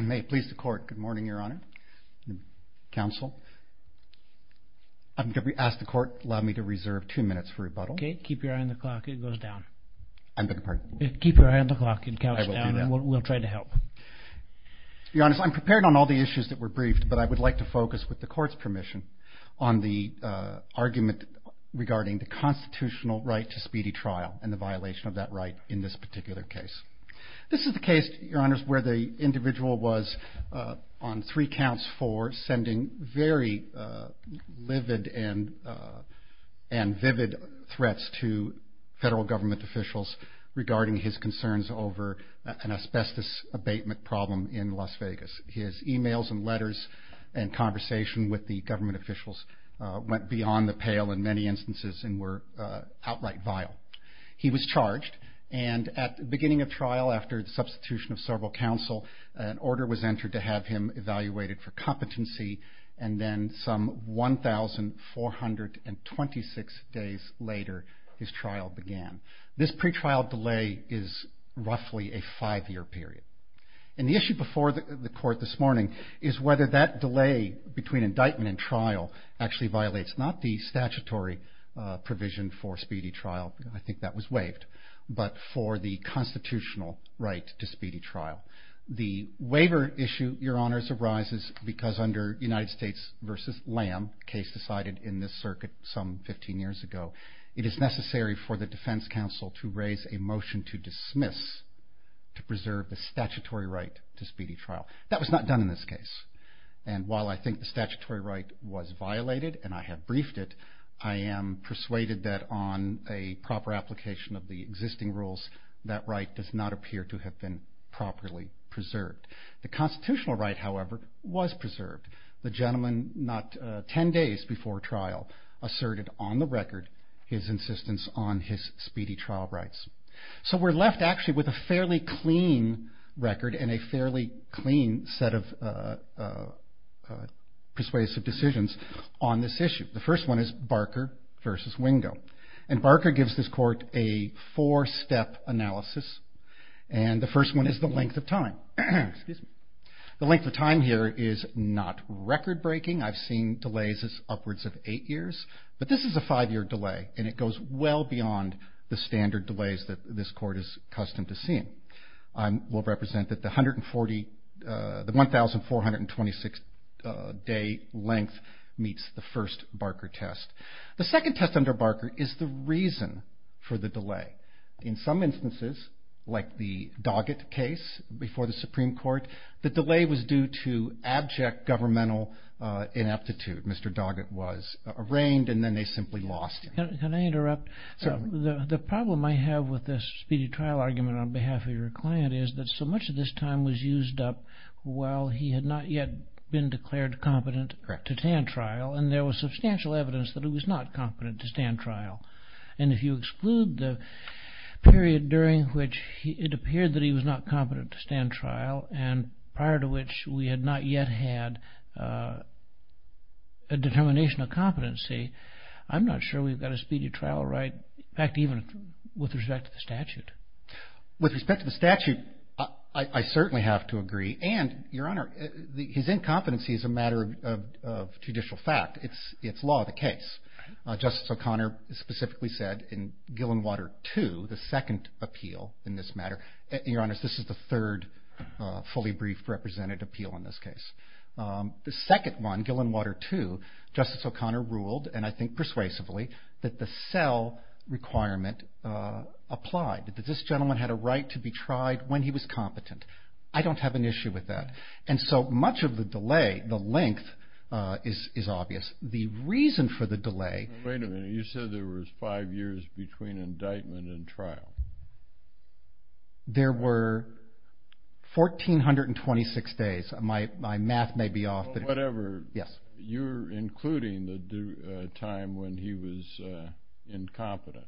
May it please the Court. Good morning, Your Honor. Counsel, I'm going to ask the Court to allow me to reserve two minutes for rebuttal. Okay. Keep your eye on the clock. It goes down. I beg your pardon? Keep your eye on the clock. It counts down. I will do that. We'll try to help. Your Honor, I'm prepared on all the issues that were briefed, but I would like to focus, with the Court's permission, on the argument regarding the constitutional right to speedy trial and the violation of that right in this particular case. This is the case, Your Honor, where the individual was on three counts for sending very livid and vivid threats to federal government officials regarding his concerns over an asbestos abatement problem in Las Vegas. His e-mails and letters and conversation with the government officials went beyond the pale in many instances and were outright vile. He was charged and at the beginning of trial, after the substitution of several counsel, an order was entered to have him evaluated for competency and then some 1,426 days later his trial began. This pretrial delay is roughly a five-year period. The issue before the Court this morning is whether that delay between indictment and trial actually violates not the statutory provision for speedy trial, I think that was waived, but for the constitutional right to speedy trial. The waiver issue, Your Honors, arises because under United States v. Lamb, a case decided in this circuit some 15 years ago, it is necessary for the defense counsel to raise a motion to dismiss to preserve the statutory right to speedy trial. That was not done in this case and while I think the statutory right was violated and I have briefed it, I am persuaded that on a proper application of the existing rules that right does not appear to have been properly preserved. The constitutional right, however, was preserved. The gentleman not 10 days before trial asserted on the record his insistence on his speedy trial rights. So we are left actually with a fairly clean record and a fairly clean set of persuasive decisions on this issue. The first one is Barker v. Wingo and Barker gives this Court a four-step analysis and the first one is the length of time. The length of time here is not record-breaking. I've seen delays as upwards of eight years, but this is a five-year delay and it goes well beyond the standard delays that this Court is accustomed to seeing. I will represent that the 1,426-day length meets the first Barker test. The second test under Barker is the reason for the delay. In some instances, like the Doggett case before the Supreme Court, the delay was due to abject governmental ineptitude. Mr. Doggett was arraigned and then they simply lost him. Can I interrupt? Certainly. The problem I have with this speedy trial argument on behalf of your client is that so much of this time was used up while he had not yet been declared competent to stand trial and there was substantial evidence that he was not competent to stand trial. If you exclude the period during which it appeared that he was not competent to stand trial and prior to which we had not yet had a determination of competency, I'm not sure we've got a speedy trial right, in fact, even with respect to the statute. With respect to the statute, I certainly have to agree and, Your Honor, his incompetency is a matter of judicial fact. It's law of the case. Justice O'Connor specifically said in Gillenwater 2, the second appeal in this matter, Your Honor, this is the third fully briefed representative appeal in this case. The second one, Gillenwater 2, Justice O'Connor ruled, and I think persuasively, that the cell requirement applied, that this gentleman had a right to be tried when he was competent. I don't have an issue with that. And so much of the delay, the length, is obvious. The reason for the delay... Wait a minute. You said there was five years between indictment and trial. There were 1,426 days. My math may be off, but... Whatever. Yes. You're including the time when he was incompetent.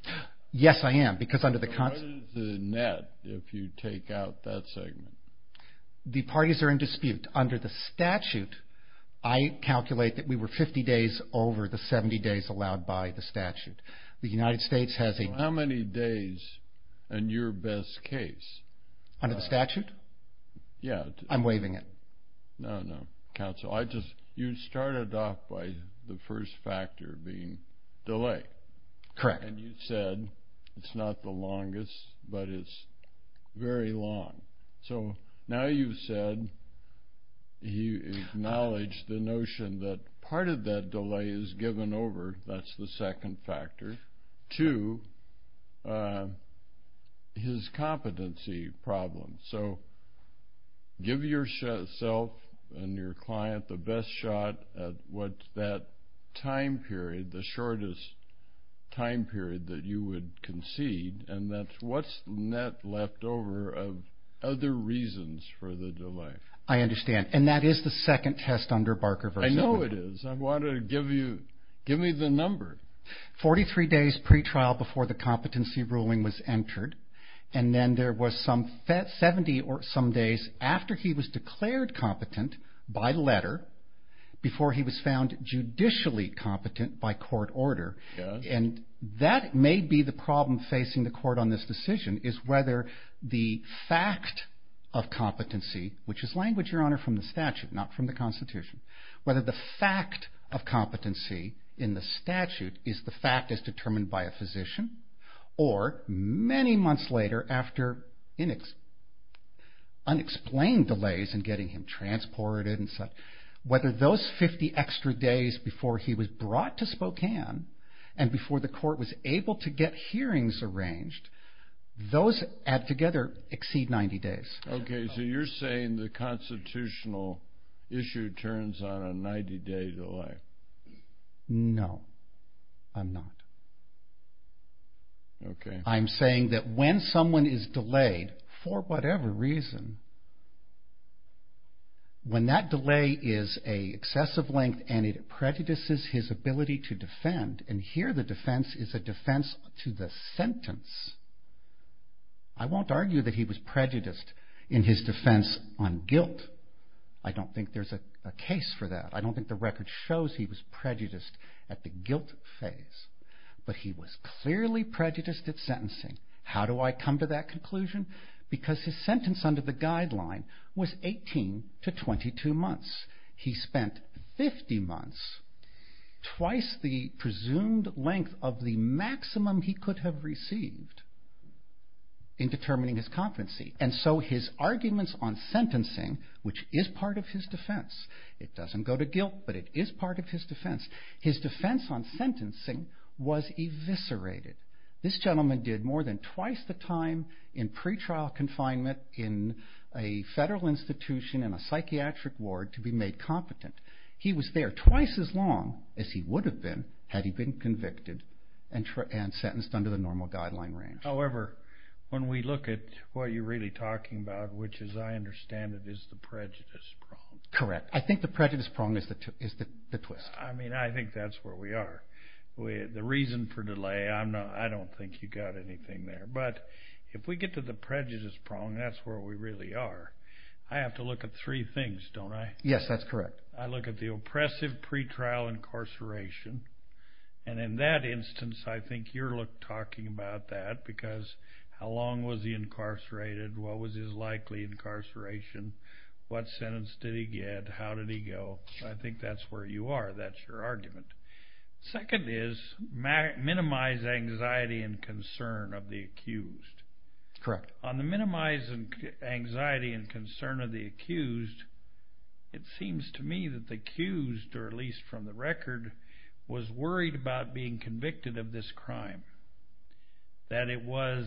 Yes, I am, because under the... What is the net if you take out that segment? The parties are in dispute. Under the statute, I calculate that we were 50 days over the 70 days allowed by the statute. The United States has a... How many days in your best case? Under the statute? Yes. I'm waiving it. No, no, counsel. You started off by the first factor being delay. Correct. And you said it's not the longest, but it's very long. So now you've said you acknowledge the notion that part of that delay is given over, that's the second factor, to his competency problem. So give yourself and your client the best shot at what that time period, the shortest time period that you would concede, and that's what's net left over of other reasons for the delay. I understand. And that is the second test under Barker v. Goodall. I know it is. I wanted to give you the number. 43 days pretrial before the competency ruling was entered, and then there was some 70 or some days after he was declared competent by letter, before he was found judicially competent by court order. Yes. And that may be the problem facing the court on this decision is whether the fact of competency, which is language, Your Honor, from the statute, not from the Constitution, whether the fact of competency in the statute is the fact as determined by a physician, or many months later after unexplained delays in getting him transported and such, whether those 50 extra days before he was brought to Spokane and before the court was able to get hearings arranged, those add together exceed 90 days. Okay, so you're saying the constitutional issue turns on a 90-day delay. No, I'm not. Okay. I'm saying that when someone is delayed, for whatever reason, when that delay is an excessive length and it prejudices his ability to defend, and here the defense is a defense to the sentence, I won't argue that he was prejudiced in his defense on guilt. I don't think there's a case for that. I don't think the record shows he was prejudiced at the guilt phase, but he was clearly prejudiced at sentencing. How do I come to that conclusion? Because his sentence under the guideline was 18 to 22 months. He spent 50 months, twice the presumed length of the maximum he could have received, in determining his competency. And so his arguments on sentencing, which is part of his defense, it doesn't go to guilt, but it is part of his defense, his defense on sentencing was eviscerated. This gentleman did more than twice the time in pretrial confinement in a federal institution in a psychiatric ward to be made competent. He was there twice as long as he would have been had he been convicted and sentenced under the normal guideline range. However, when we look at what you're really talking about, which as I understand it is the prejudice prong. Correct. I think the prejudice prong is the twist. I mean, I think that's where we are. The reason for delay, I don't think you've got anything there. But if we get to the prejudice prong, that's where we really are. I have to look at three things, don't I? Yes, that's correct. I look at the oppressive pretrial incarceration, and in that instance I think you're talking about that because how long was he incarcerated, what was his likely incarceration, what sentence did he get, how did he go. I think that's where you are, that's your argument. Second is minimize anxiety and concern of the accused. Correct. On the minimize anxiety and concern of the accused, it seems to me that the accused, or at least from the record, was worried about being convicted of this crime. That it was,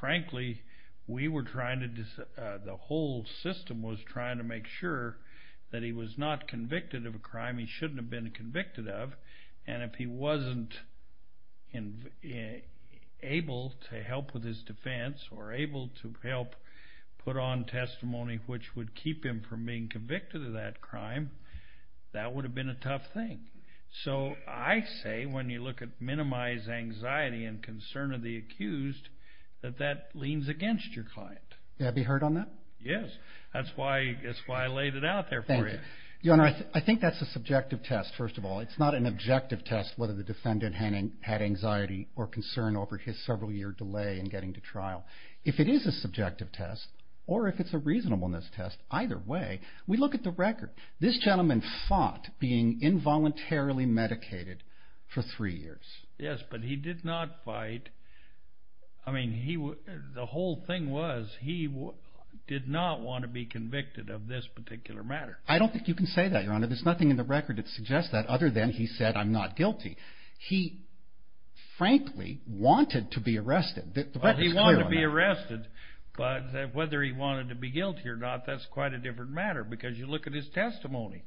frankly, we were trying to, the whole system was trying to make sure that he was not convicted of a crime he shouldn't have been convicted of, and if he wasn't able to help with his defense or able to help put on testimony which would keep him from being convicted of that crime, that would have been a tough thing. So I say when you look at minimize anxiety and concern of the accused, that that leans against your client. May I be heard on that? Yes. That's why I laid it out there for you. Thank you. Your Honor, I think that's a subjective test, first of all. It's not an objective test whether the defendant had anxiety or concern over his several-year delay in getting to trial. If it is a subjective test, or if it's a reasonableness test, either way, we look at the record. This gentleman fought being involuntarily medicated for three years. Yes, but he did not fight. I mean, the whole thing was he did not want to be convicted of this particular matter. I don't think you can say that, Your Honor. There's nothing in the record that suggests that other than he said, I'm not guilty. He, frankly, wanted to be arrested. He wanted to be arrested, but whether he wanted to be guilty or not, that's quite a different matter because you look at his testimony.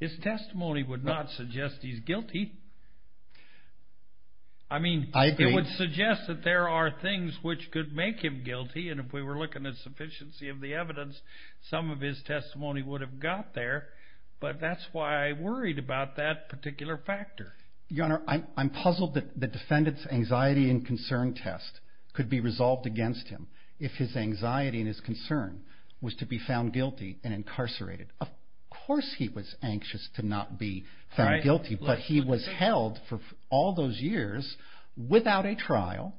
His testimony would not suggest he's guilty. I mean, it would suggest that there are things which could make him guilty, and if we were looking at sufficiency of the evidence, some of his testimony would have got there, but that's why I worried about that particular factor. Your Honor, I'm puzzled that the defendant's anxiety and concern test could be resolved against him if his anxiety and his concern was to be found guilty and incarcerated. Of course he was anxious to not be found guilty, but he was held for all those years without a trial,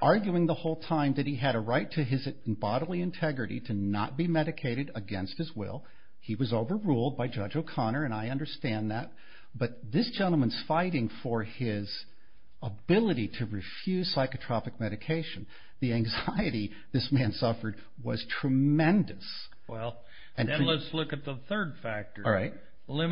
arguing the whole time that he had a right to his bodily integrity to not be medicated against his will. He was overruled by Judge O'Connor, and I understand that, but this gentleman's fighting for his ability to refuse psychotropic medication. The anxiety this man suffered was tremendous. All right. Isn't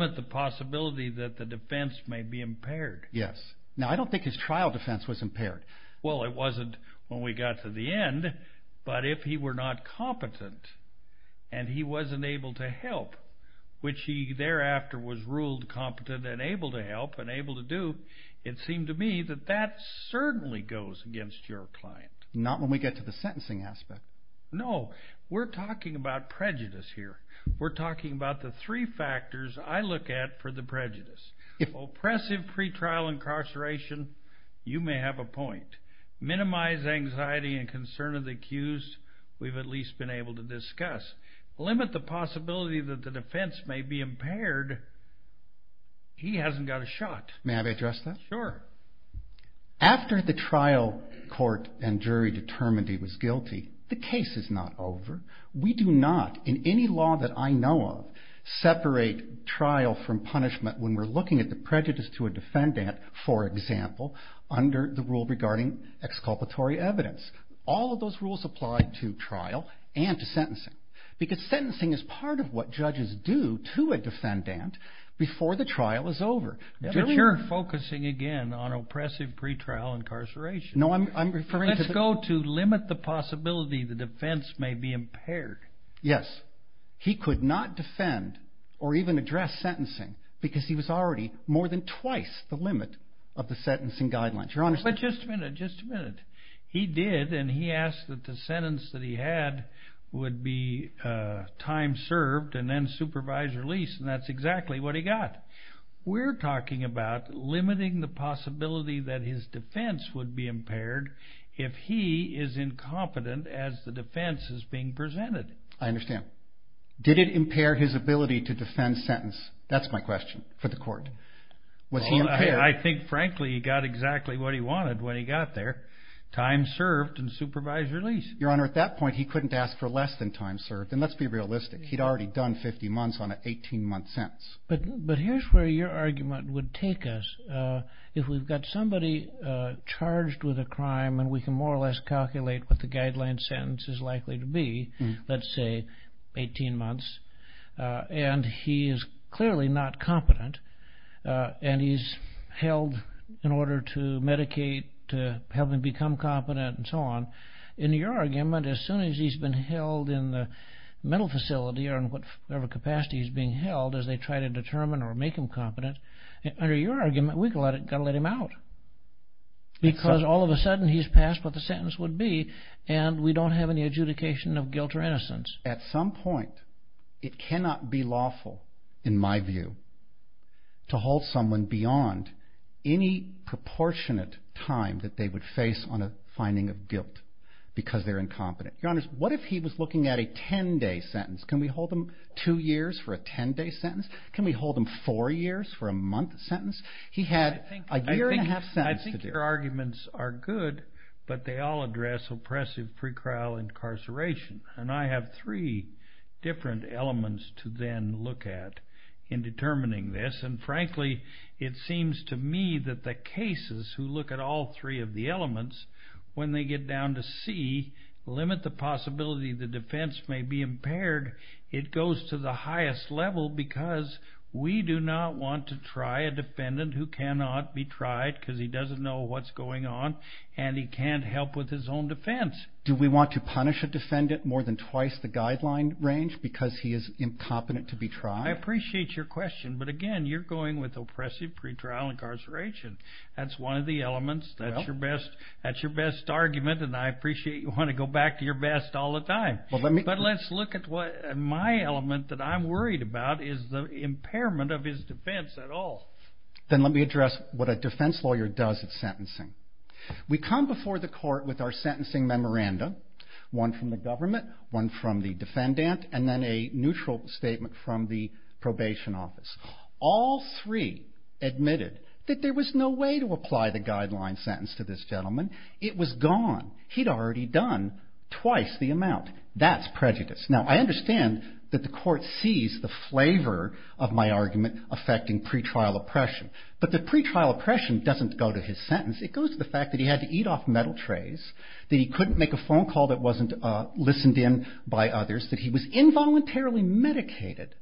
it the possibility that the defense may be impaired? Yes. Now, I don't think his trial defense was impaired. Well, it wasn't when we got to the end, but if he were not competent and he wasn't able to help, which he thereafter was ruled competent and able to help and able to do, it seemed to me that that certainly goes against your client. Not when we get to the sentencing aspect. No. We're talking about prejudice here. We're talking about the three factors I look at for the prejudice. If oppressive pretrial incarceration, you may have a point. Minimize anxiety and concern of the accused, we've at least been able to discuss. Limit the possibility that the defense may be impaired, he hasn't got a shot. May I address that? Sure. After the trial court and jury determined he was guilty, the case is not over. We do not in any law that I know of separate trial from punishment when we're looking at the prejudice to a defendant, for example, under the rule regarding exculpatory evidence. All of those rules apply to trial and to sentencing because sentencing is part of what judges do to a defendant before the trial is over. But you're focusing again on oppressive pretrial incarceration. No, I'm referring to the the defense may be impaired. Yes. He could not defend or even address sentencing because he was already more than twice the limit of the sentencing guidelines. But just a minute, just a minute. He did, and he asked that the sentence that he had would be time served and then supervised release, and that's exactly what he got. We're talking about limiting the possibility that his defense would be impaired if he is incompetent as the defense is being presented. I understand. Did it impair his ability to defend sentence? That's my question for the court. Was he impaired? I think, frankly, he got exactly what he wanted when he got there, time served and supervised release. Your Honor, at that point, he couldn't ask for less than time served. And let's be realistic. He'd already done 50 months on an 18-month sentence. But here's where your argument would take us. If we've got somebody charged with a crime and we can more or less calculate what the guideline sentence is likely to be, let's say 18 months, and he is clearly not competent and he's held in order to medicate, to help him become competent and so on, in your argument, as soon as he's been held in the mental facility or whatever capacity he's being held, as they try to determine or make him competent, under your argument, we've got to let him out because all of a sudden he's passed what the sentence would be and we don't have any adjudication of guilt or innocence. At some point, it cannot be lawful, in my view, to hold someone beyond any proportionate time that they would face on a finding of guilt because they're incompetent. Your Honor, what if he was looking at a 10-day sentence? Can we hold him two years for a 10-day sentence? Can we hold him four years for a month sentence? He had a year and a half sentence to do. I think your arguments are good, but they all address oppressive pre-trial incarceration, and I have three different elements to then look at in determining this, and frankly, it seems to me that the cases who look at all three of the elements, when they get down to C, limit the possibility the defense may be impaired, it goes to the highest level because we do not want to try a defendant who cannot be tried because he doesn't know what's going on, and he can't help with his own defense. Do we want to punish a defendant more than twice the guideline range because he is incompetent to be tried? I appreciate your question, but again, you're going with oppressive pre-trial incarceration. That's one of the elements. That's your best argument, and I appreciate you want to go back to your best all the time. But let's look at my element that I'm worried about is the impairment of his defense at all. Then let me address what a defense lawyer does at sentencing. We come before the court with our sentencing memoranda, one from the government, one from the defendant, and then a neutral statement from the probation office. All three admitted that there was no way to apply the guideline sentence to this gentleman. It was gone. He'd already done twice the amount. That's prejudice. Now, I understand that the court sees the flavor of my argument affecting pre-trial oppression, but the pre-trial oppression doesn't go to his sentence. It goes to the fact that he had to eat off metal trays, that he couldn't make a phone call that wasn't listened in by others, that he was involuntarily medicated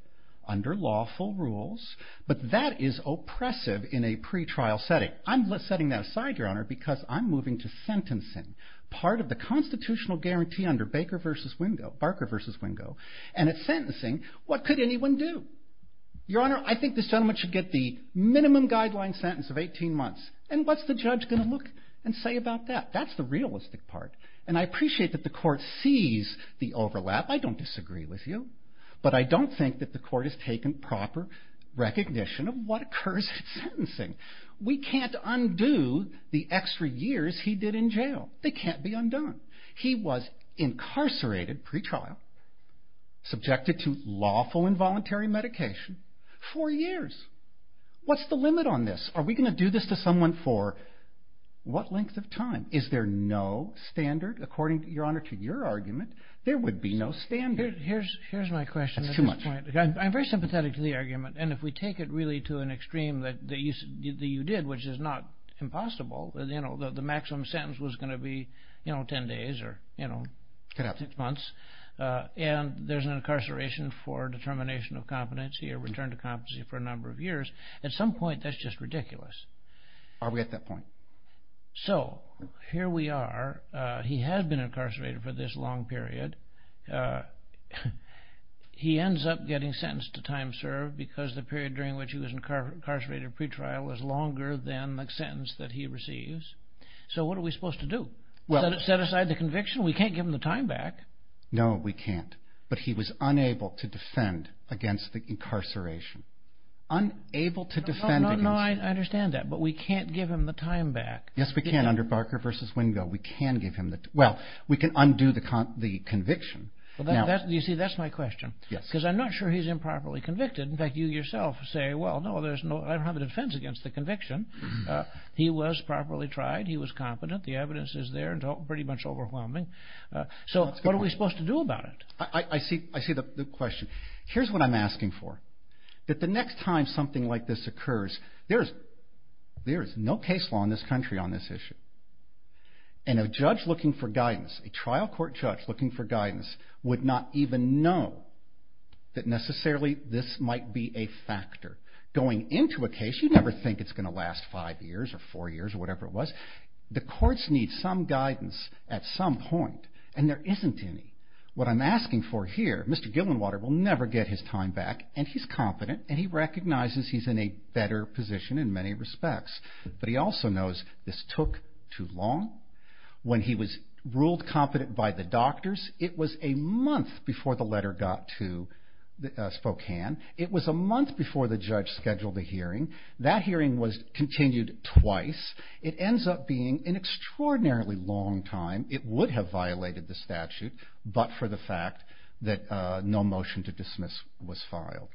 under lawful rules, but that is oppressive in a pre-trial setting. I'm setting that aside, Your Honor, because I'm moving to sentencing, part of the constitutional guarantee under Baker v. Wingo, Barker v. Wingo, and at sentencing, what could anyone do? Your Honor, I think this gentleman should get the minimum guideline sentence of 18 months, and what's the judge going to look and say about that? That's the realistic part, and I appreciate that the court sees the overlap. I don't disagree with you, but I don't think that the court has taken proper recognition of what occurs at sentencing. We can't undo the extra years he did in jail. They can't be undone. He was incarcerated pre-trial, subjected to lawful, involuntary medication for years. What's the limit on this? Are we going to do this to someone for what length of time? Is there no standard? According, Your Honor, to your argument, there would be no standard. Here's my question at this point. That's too much. I'm very sympathetic to the argument, and if we take it really to an extreme that you did, which is not impossible, the maximum sentence was going to be 10 days or six months, and there's an incarceration for determination of competency or return to competency for a number of years, at some point that's just ridiculous. Are we at that point? So, here we are. He has been incarcerated for this long period. He ends up getting sentenced to time served because the period during which he was incarcerated pre-trial was longer than the sentence that he receives. So, what are we supposed to do? Set aside the conviction? We can't give him the time back. No, we can't, but he was unable to defend against the incarceration. Unable to defend against it. No, I understand that, but we can't give him the time back. Yes, we can under Barker v. Wingo. Well, we can undo the conviction. You see, that's my question. Yes. Because I'm not sure he's improperly convicted. In fact, you yourself say, well, no, I don't have a defense against the conviction. He was properly tried. He was competent. The evidence is there and pretty much overwhelming. So, what are we supposed to do about it? I see the question. Here's what I'm asking for. That the next time something like this occurs, there is no case law in this country on this issue. And a judge looking for guidance, a trial court judge looking for guidance, would not even know that necessarily this might be a factor. Going into a case, you never think it's going to last five years or four years or whatever it was. The courts need some guidance at some point, and there isn't any. What I'm asking for here, Mr. Gillenwater will never get his time back, and he's competent, and he recognizes he's in a better position in many respects. But he also knows this took too long. When he was ruled competent by the doctors, it was a month before the letter got to Spokane. It was a month before the judge scheduled a hearing. That hearing was continued twice. It ends up being an extraordinarily long time. It would have violated the statute, but for the fact that no motion to dismiss was filed.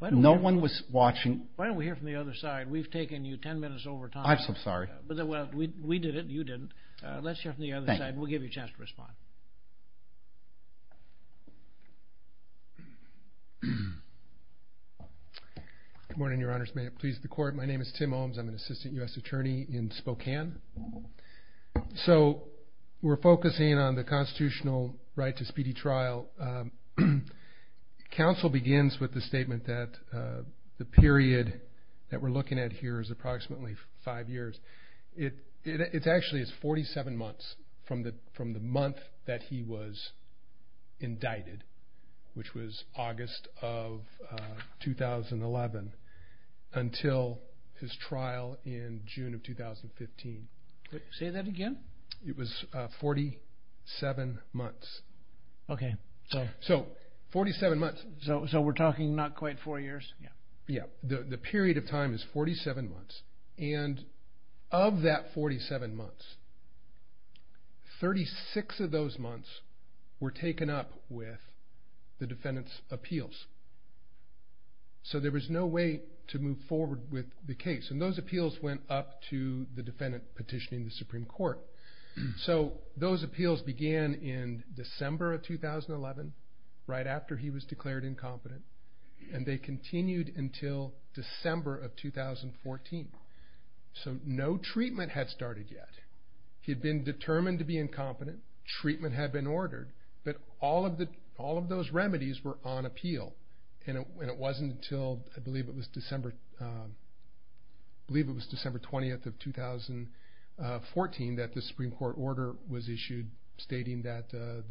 No one was watching. Why don't we hear from the other side? We've taken you ten minutes over time. I'm so sorry. We did it, and you didn't. Let's hear from the other side, and we'll give you a chance to respond. Good morning, Your Honors. May it please the Court. My name is Tim Ohms. I'm an assistant U.S. attorney in Spokane. So we're focusing on the constitutional right to speedy trial. Counsel begins with the statement that the period that we're looking at here is approximately five years. It actually is 47 months from the month that he was indicted, which was August of 2011, until his trial in June of 2015. Say that again? It was 47 months. Okay. So 47 months. So we're talking not quite four years? Yeah. The period of time is 47 months, and of that 47 months, 36 of those months were taken up with the defendant's appeals. So there was no way to move forward with the case, and those appeals went up to the defendant petitioning the Supreme Court. So those appeals began in December of 2011, right after he was declared incompetent, and they continued until December of 2014. So no treatment had started yet. He had been determined to be incompetent. Treatment had been ordered. But all of those remedies were on appeal, and it wasn't until I believe it was December 20th of 2014 that the Supreme Court order was issued, stating that the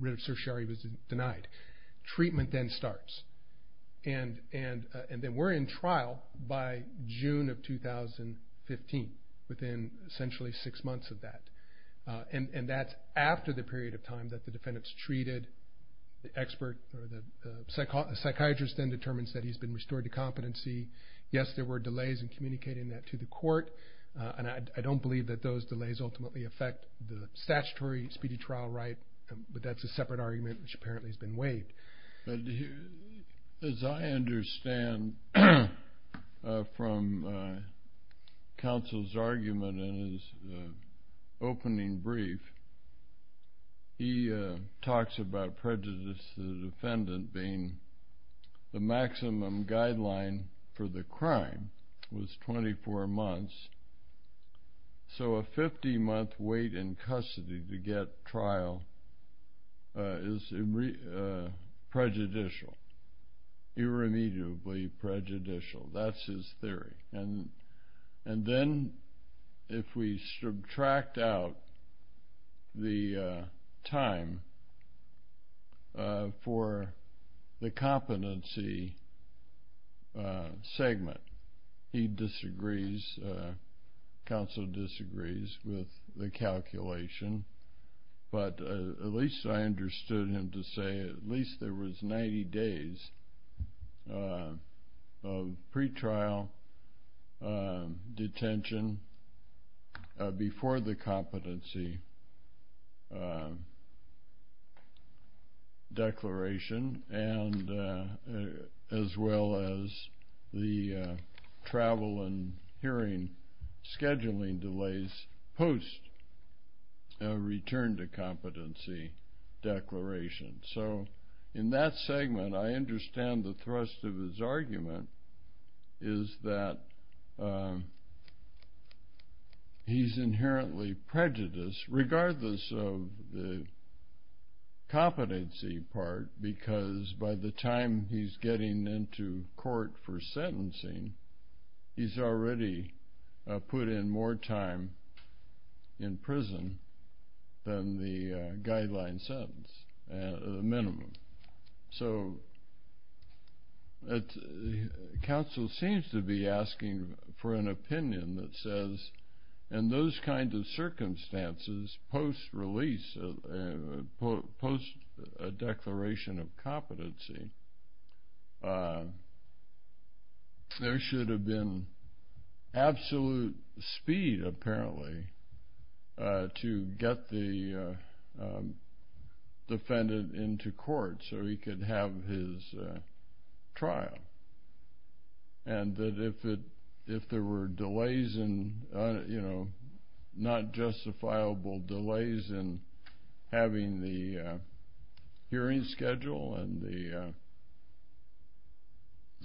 writ of certiorari was denied. Treatment then starts. And then we're in trial by June of 2015, within essentially six months of that. And that's after the period of time that the defendant's treated. The expert or the psychiatrist then determines that he's been restored to competency. Yes, there were delays in communicating that to the court, and I don't believe that those delays ultimately affect the statutory speedy trial right, but that's a separate argument which apparently has been waived. As I understand from counsel's argument in his opening brief, he talks about prejudice to the defendant being the maximum guideline for the crime was 24 months. So a 50-month wait in custody to get trial is prejudicial, irremediably prejudicial. That's his theory. And then if we subtract out the time for the competency segment, he disagrees, counsel disagrees with the calculation. But at least I understood him to say at least there was 90 days of pretrial detention before the competency declaration as well as the travel and hearing scheduling delays post return to competency declaration. So in that segment, I understand the thrust of his argument is that he's inherently prejudiced, regardless of the competency part, because by the time he's getting into court for sentencing, he's already put in more time in prison than the guideline sentence, the minimum. So counsel seems to be asking for an opinion that says in those kinds of circumstances, post release, post declaration of competency, there should have been absolute speed apparently to get the defendant into court so he could have his trial. And that if there were delays, not justifiable delays in having the hearing schedule and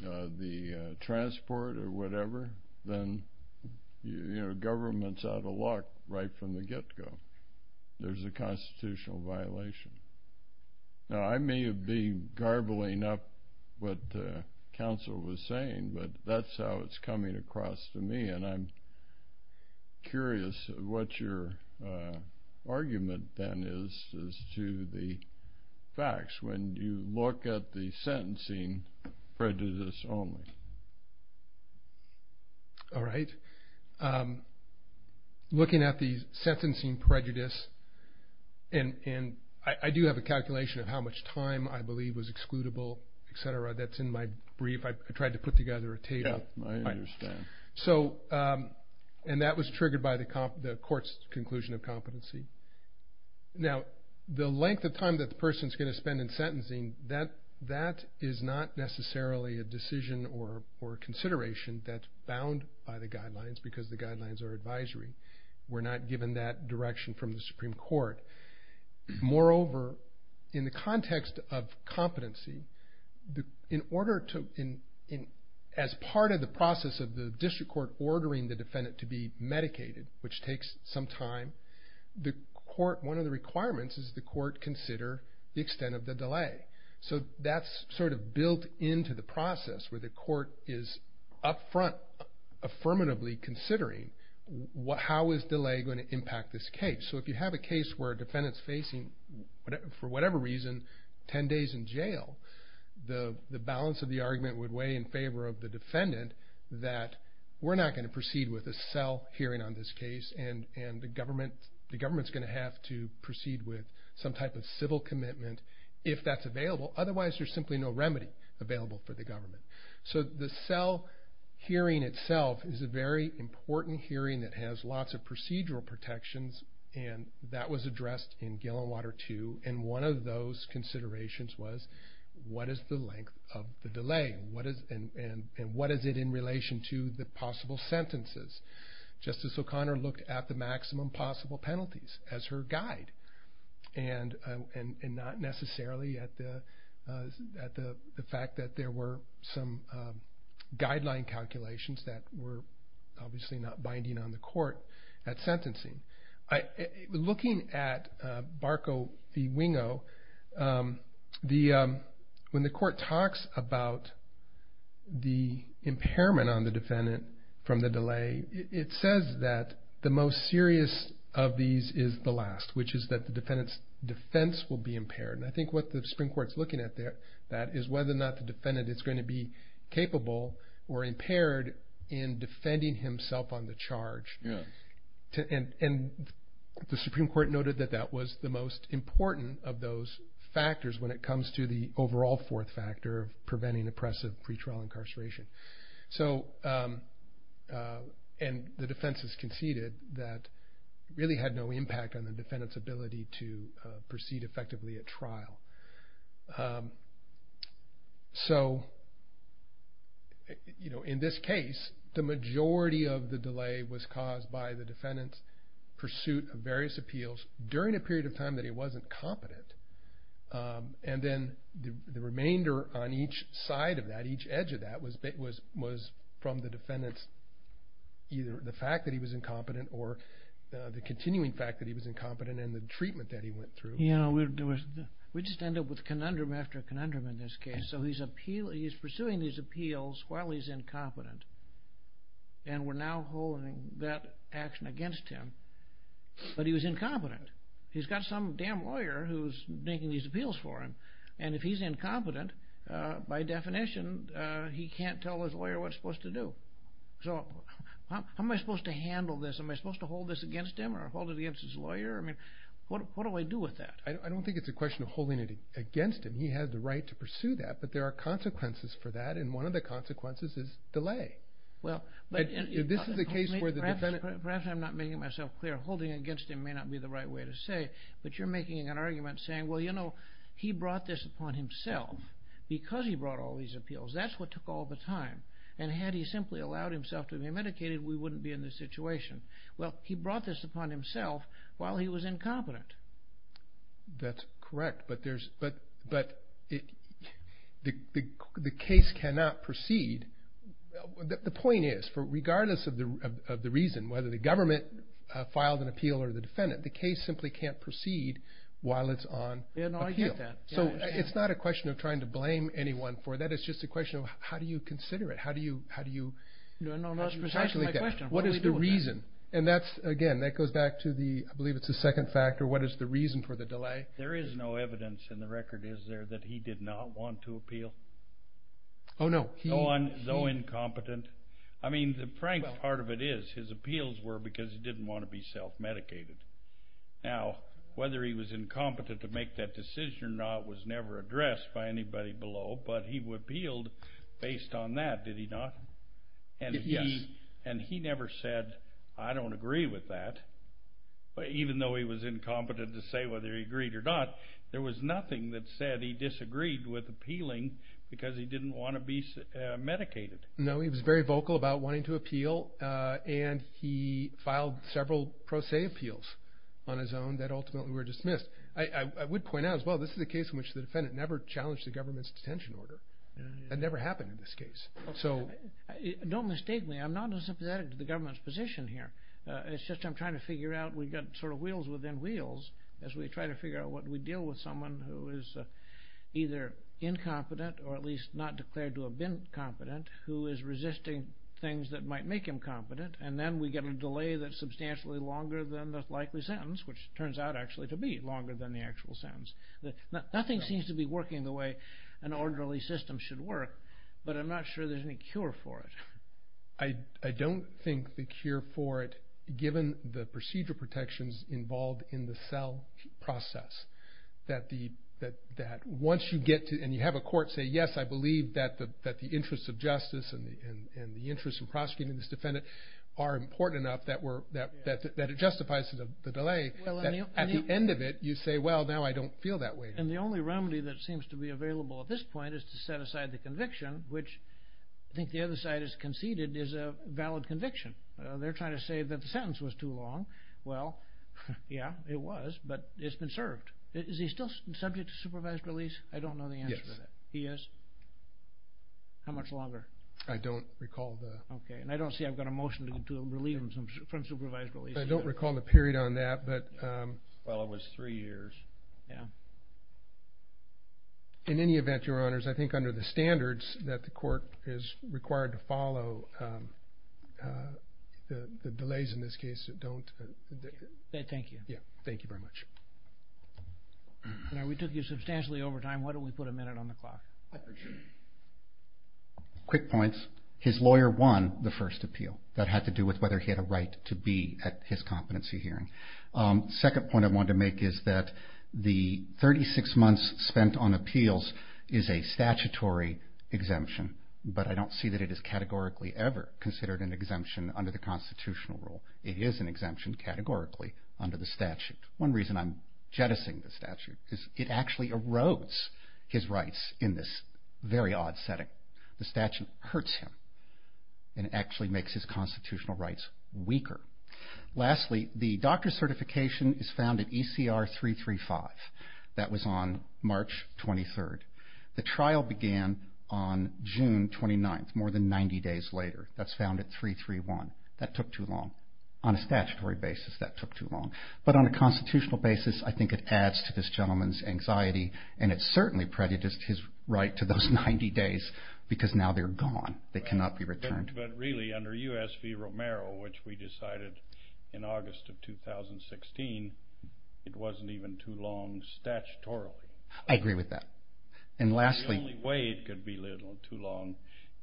the transport or whatever, then government's out of luck right from the get-go. There's a constitutional violation. Now, I may be garbling up what counsel was saying, but that's how it's coming across to me. And I'm curious what your argument then is as to the facts when you look at the sentencing prejudice only. All right, looking at the sentencing prejudice, and I do have a calculation of how much time I believe was excludable, et cetera. That's in my brief. I tried to put together a table. I understand. And that was triggered by the court's conclusion of competency. Now, the length of time that the person's going to spend in sentencing, that is not necessarily a decision or consideration that's bound by the guidelines because the guidelines are advisory. We're not given that direction from the Supreme Court. Moreover, in the context of competency, as part of the process of the district court ordering the defendant to be medicated, which takes some time, one of the requirements is the court consider the extent of the delay. So that's sort of built into the process where the court is up front affirmatively considering how is delay going to impact this case. So if you have a case where a defendant's facing, for whatever reason, 10 days in jail, the balance of the argument would weigh in favor of the defendant that we're not going to proceed with a cell hearing on this case and the government's going to have to proceed with some type of civil commitment if that's available. Otherwise, there's simply no remedy available for the government. So the cell hearing itself is a very important hearing that has lots of procedural protections, and that was addressed in Gillenwater II. And one of those considerations was what is the length of the delay and what is it in relation to the possible sentences. Justice O'Connor looked at the maximum possible penalties as her guide and not necessarily at the fact that there were some guideline calculations that were obviously not binding on the court at sentencing. Looking at Barco v. Wingo, when the court talks about the impairment on the defendant from the delay, it says that the most serious of these is the last, which is that the defendant's defense will be impaired. And I think what the Supreme Court's looking at there, that is whether or not the defendant is going to be capable or impaired in defending himself on the charge. And the Supreme Court noted that that was the most important of those factors when it comes to the overall fourth factor of preventing oppressive pretrial incarceration. And the defense has conceded that it really had no impact on the defendant's ability to proceed effectively at trial. So in this case, the majority of the delay was caused by the defendant's pursuit of various appeals during a period of time that he wasn't competent. And then the remainder on each side of that, each edge of that, was from the defendant's either the fact that he was incompetent or the continuing fact that he was incompetent and the treatment that he went through. We just end up with conundrum after conundrum in this case. So he's pursuing these appeals while he's incompetent. And we're now holding that action against him. But he was incompetent. He's got some damn lawyer who's making these appeals for him. And if he's incompetent, by definition, he can't tell his lawyer what he's supposed to do. So how am I supposed to handle this? Am I supposed to hold this against him or hold it against his lawyer? I mean, what do I do with that? I don't think it's a question of holding it against him. He has the right to pursue that, but there are consequences for that, and one of the consequences is delay. This is a case where the defendant... Perhaps I'm not making myself clear. Holding it against him may not be the right way to say, but you're making an argument saying, well, you know, he brought this upon himself because he brought all these appeals. That's what took all the time. And had he simply allowed himself to be medicated, we wouldn't be in this situation. Well, he brought this upon himself while he was incompetent. That's correct, but the case cannot proceed. The point is, regardless of the reason, whether the government filed an appeal or the defendant, the case simply can't proceed while it's on appeal. Yeah, no, I get that. So it's not a question of trying to blame anyone for that. It's just a question of how do you consider it, how do you... No, no, that's precisely my question. What is the reason? And that's, again, that goes back to the, I believe it's the second factor, what is the reason for the delay? There is no evidence in the record, is there, that he did not want to appeal? Oh, no. Though incompetent. I mean, the frank part of it is his appeals were because he didn't want to be self-medicated. Now, whether he was incompetent to make that decision or not was never addressed by anybody below, but he appealed based on that, did he not? Yes. And he never said, I don't agree with that. Even though he was incompetent to say whether he agreed or not, there was nothing that said he disagreed with appealing because he didn't want to be medicated. No, he was very vocal about wanting to appeal, and he filed several pro se appeals on his own that ultimately were dismissed. I would point out as well, this is a case in which the defendant never challenged the government's detention order. That never happened in this case. Don't mistake me. I'm not as sympathetic to the government's position here. It's just I'm trying to figure out, we've got sort of wheels within wheels as we try to figure out what we deal with someone who is either incompetent or at least not declared to have been competent who is resisting things that might make him competent, and then we get a delay that's substantially longer than the likely sentence, which turns out actually to be longer than the actual sentence. Nothing seems to be working the way an orderly system should work, but I'm not sure there's any cure for it. I don't think the cure for it, given the procedure protections involved in the cell process, that once you get to and you have a court say, yes, I believe that the interest of justice and the interest in prosecuting this defendant are important enough that it justifies the delay. At the end of it, you say, well, now I don't feel that way. And the only remedy that seems to be available at this point is to set aside the conviction, which I think the other side has conceded is a valid conviction. They're trying to say that the sentence was too long. Well, yeah, it was, but it's been served. Is he still subject to supervised release? I don't know the answer to that. Yes. He is? How much longer? I don't recall the... Okay, and I don't see I've got a motion to relieve him from supervised release. I don't recall the period on that, but... Well, it was three years. Three years, yeah. In any event, Your Honors, I think under the standards that the court is required to follow, the delays in this case don't... Thank you. Yeah, thank you very much. We took you substantially over time. Why don't we put a minute on the clock? Quick points. His lawyer won the first appeal. That had to do with whether he had a right to be at his competency hearing. Second point I wanted to make is that the 36 months spent on appeals is a statutory exemption, but I don't see that it is categorically ever considered an exemption under the constitutional rule. It is an exemption categorically under the statute. One reason I'm jettisoning the statute is it actually erodes his rights in this very odd setting. The statute hurts him and actually makes his constitutional rights weaker. Lastly, the doctor's certification is found at ECR 335. That was on March 23rd. The trial began on June 29th, more than 90 days later. That's found at 331. That took too long. On a statutory basis, that took too long. But on a constitutional basis, I think it adds to this gentleman's anxiety, and it certainly prejudiced his right to those 90 days because now they're gone. They cannot be returned. But really, under U.S. v. Romero, which we decided in August of 2016, it wasn't even too long statutorily. I agree with that. The only way it could be too long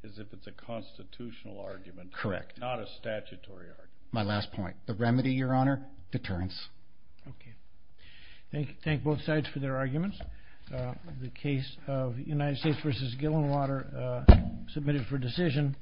is if it's a constitutional argument, not a statutory argument. My last point. The remedy, Your Honor? Deterrence. Okay. Thank both sides for their arguments. The case of United States v. Gilliland Water submitted for decision.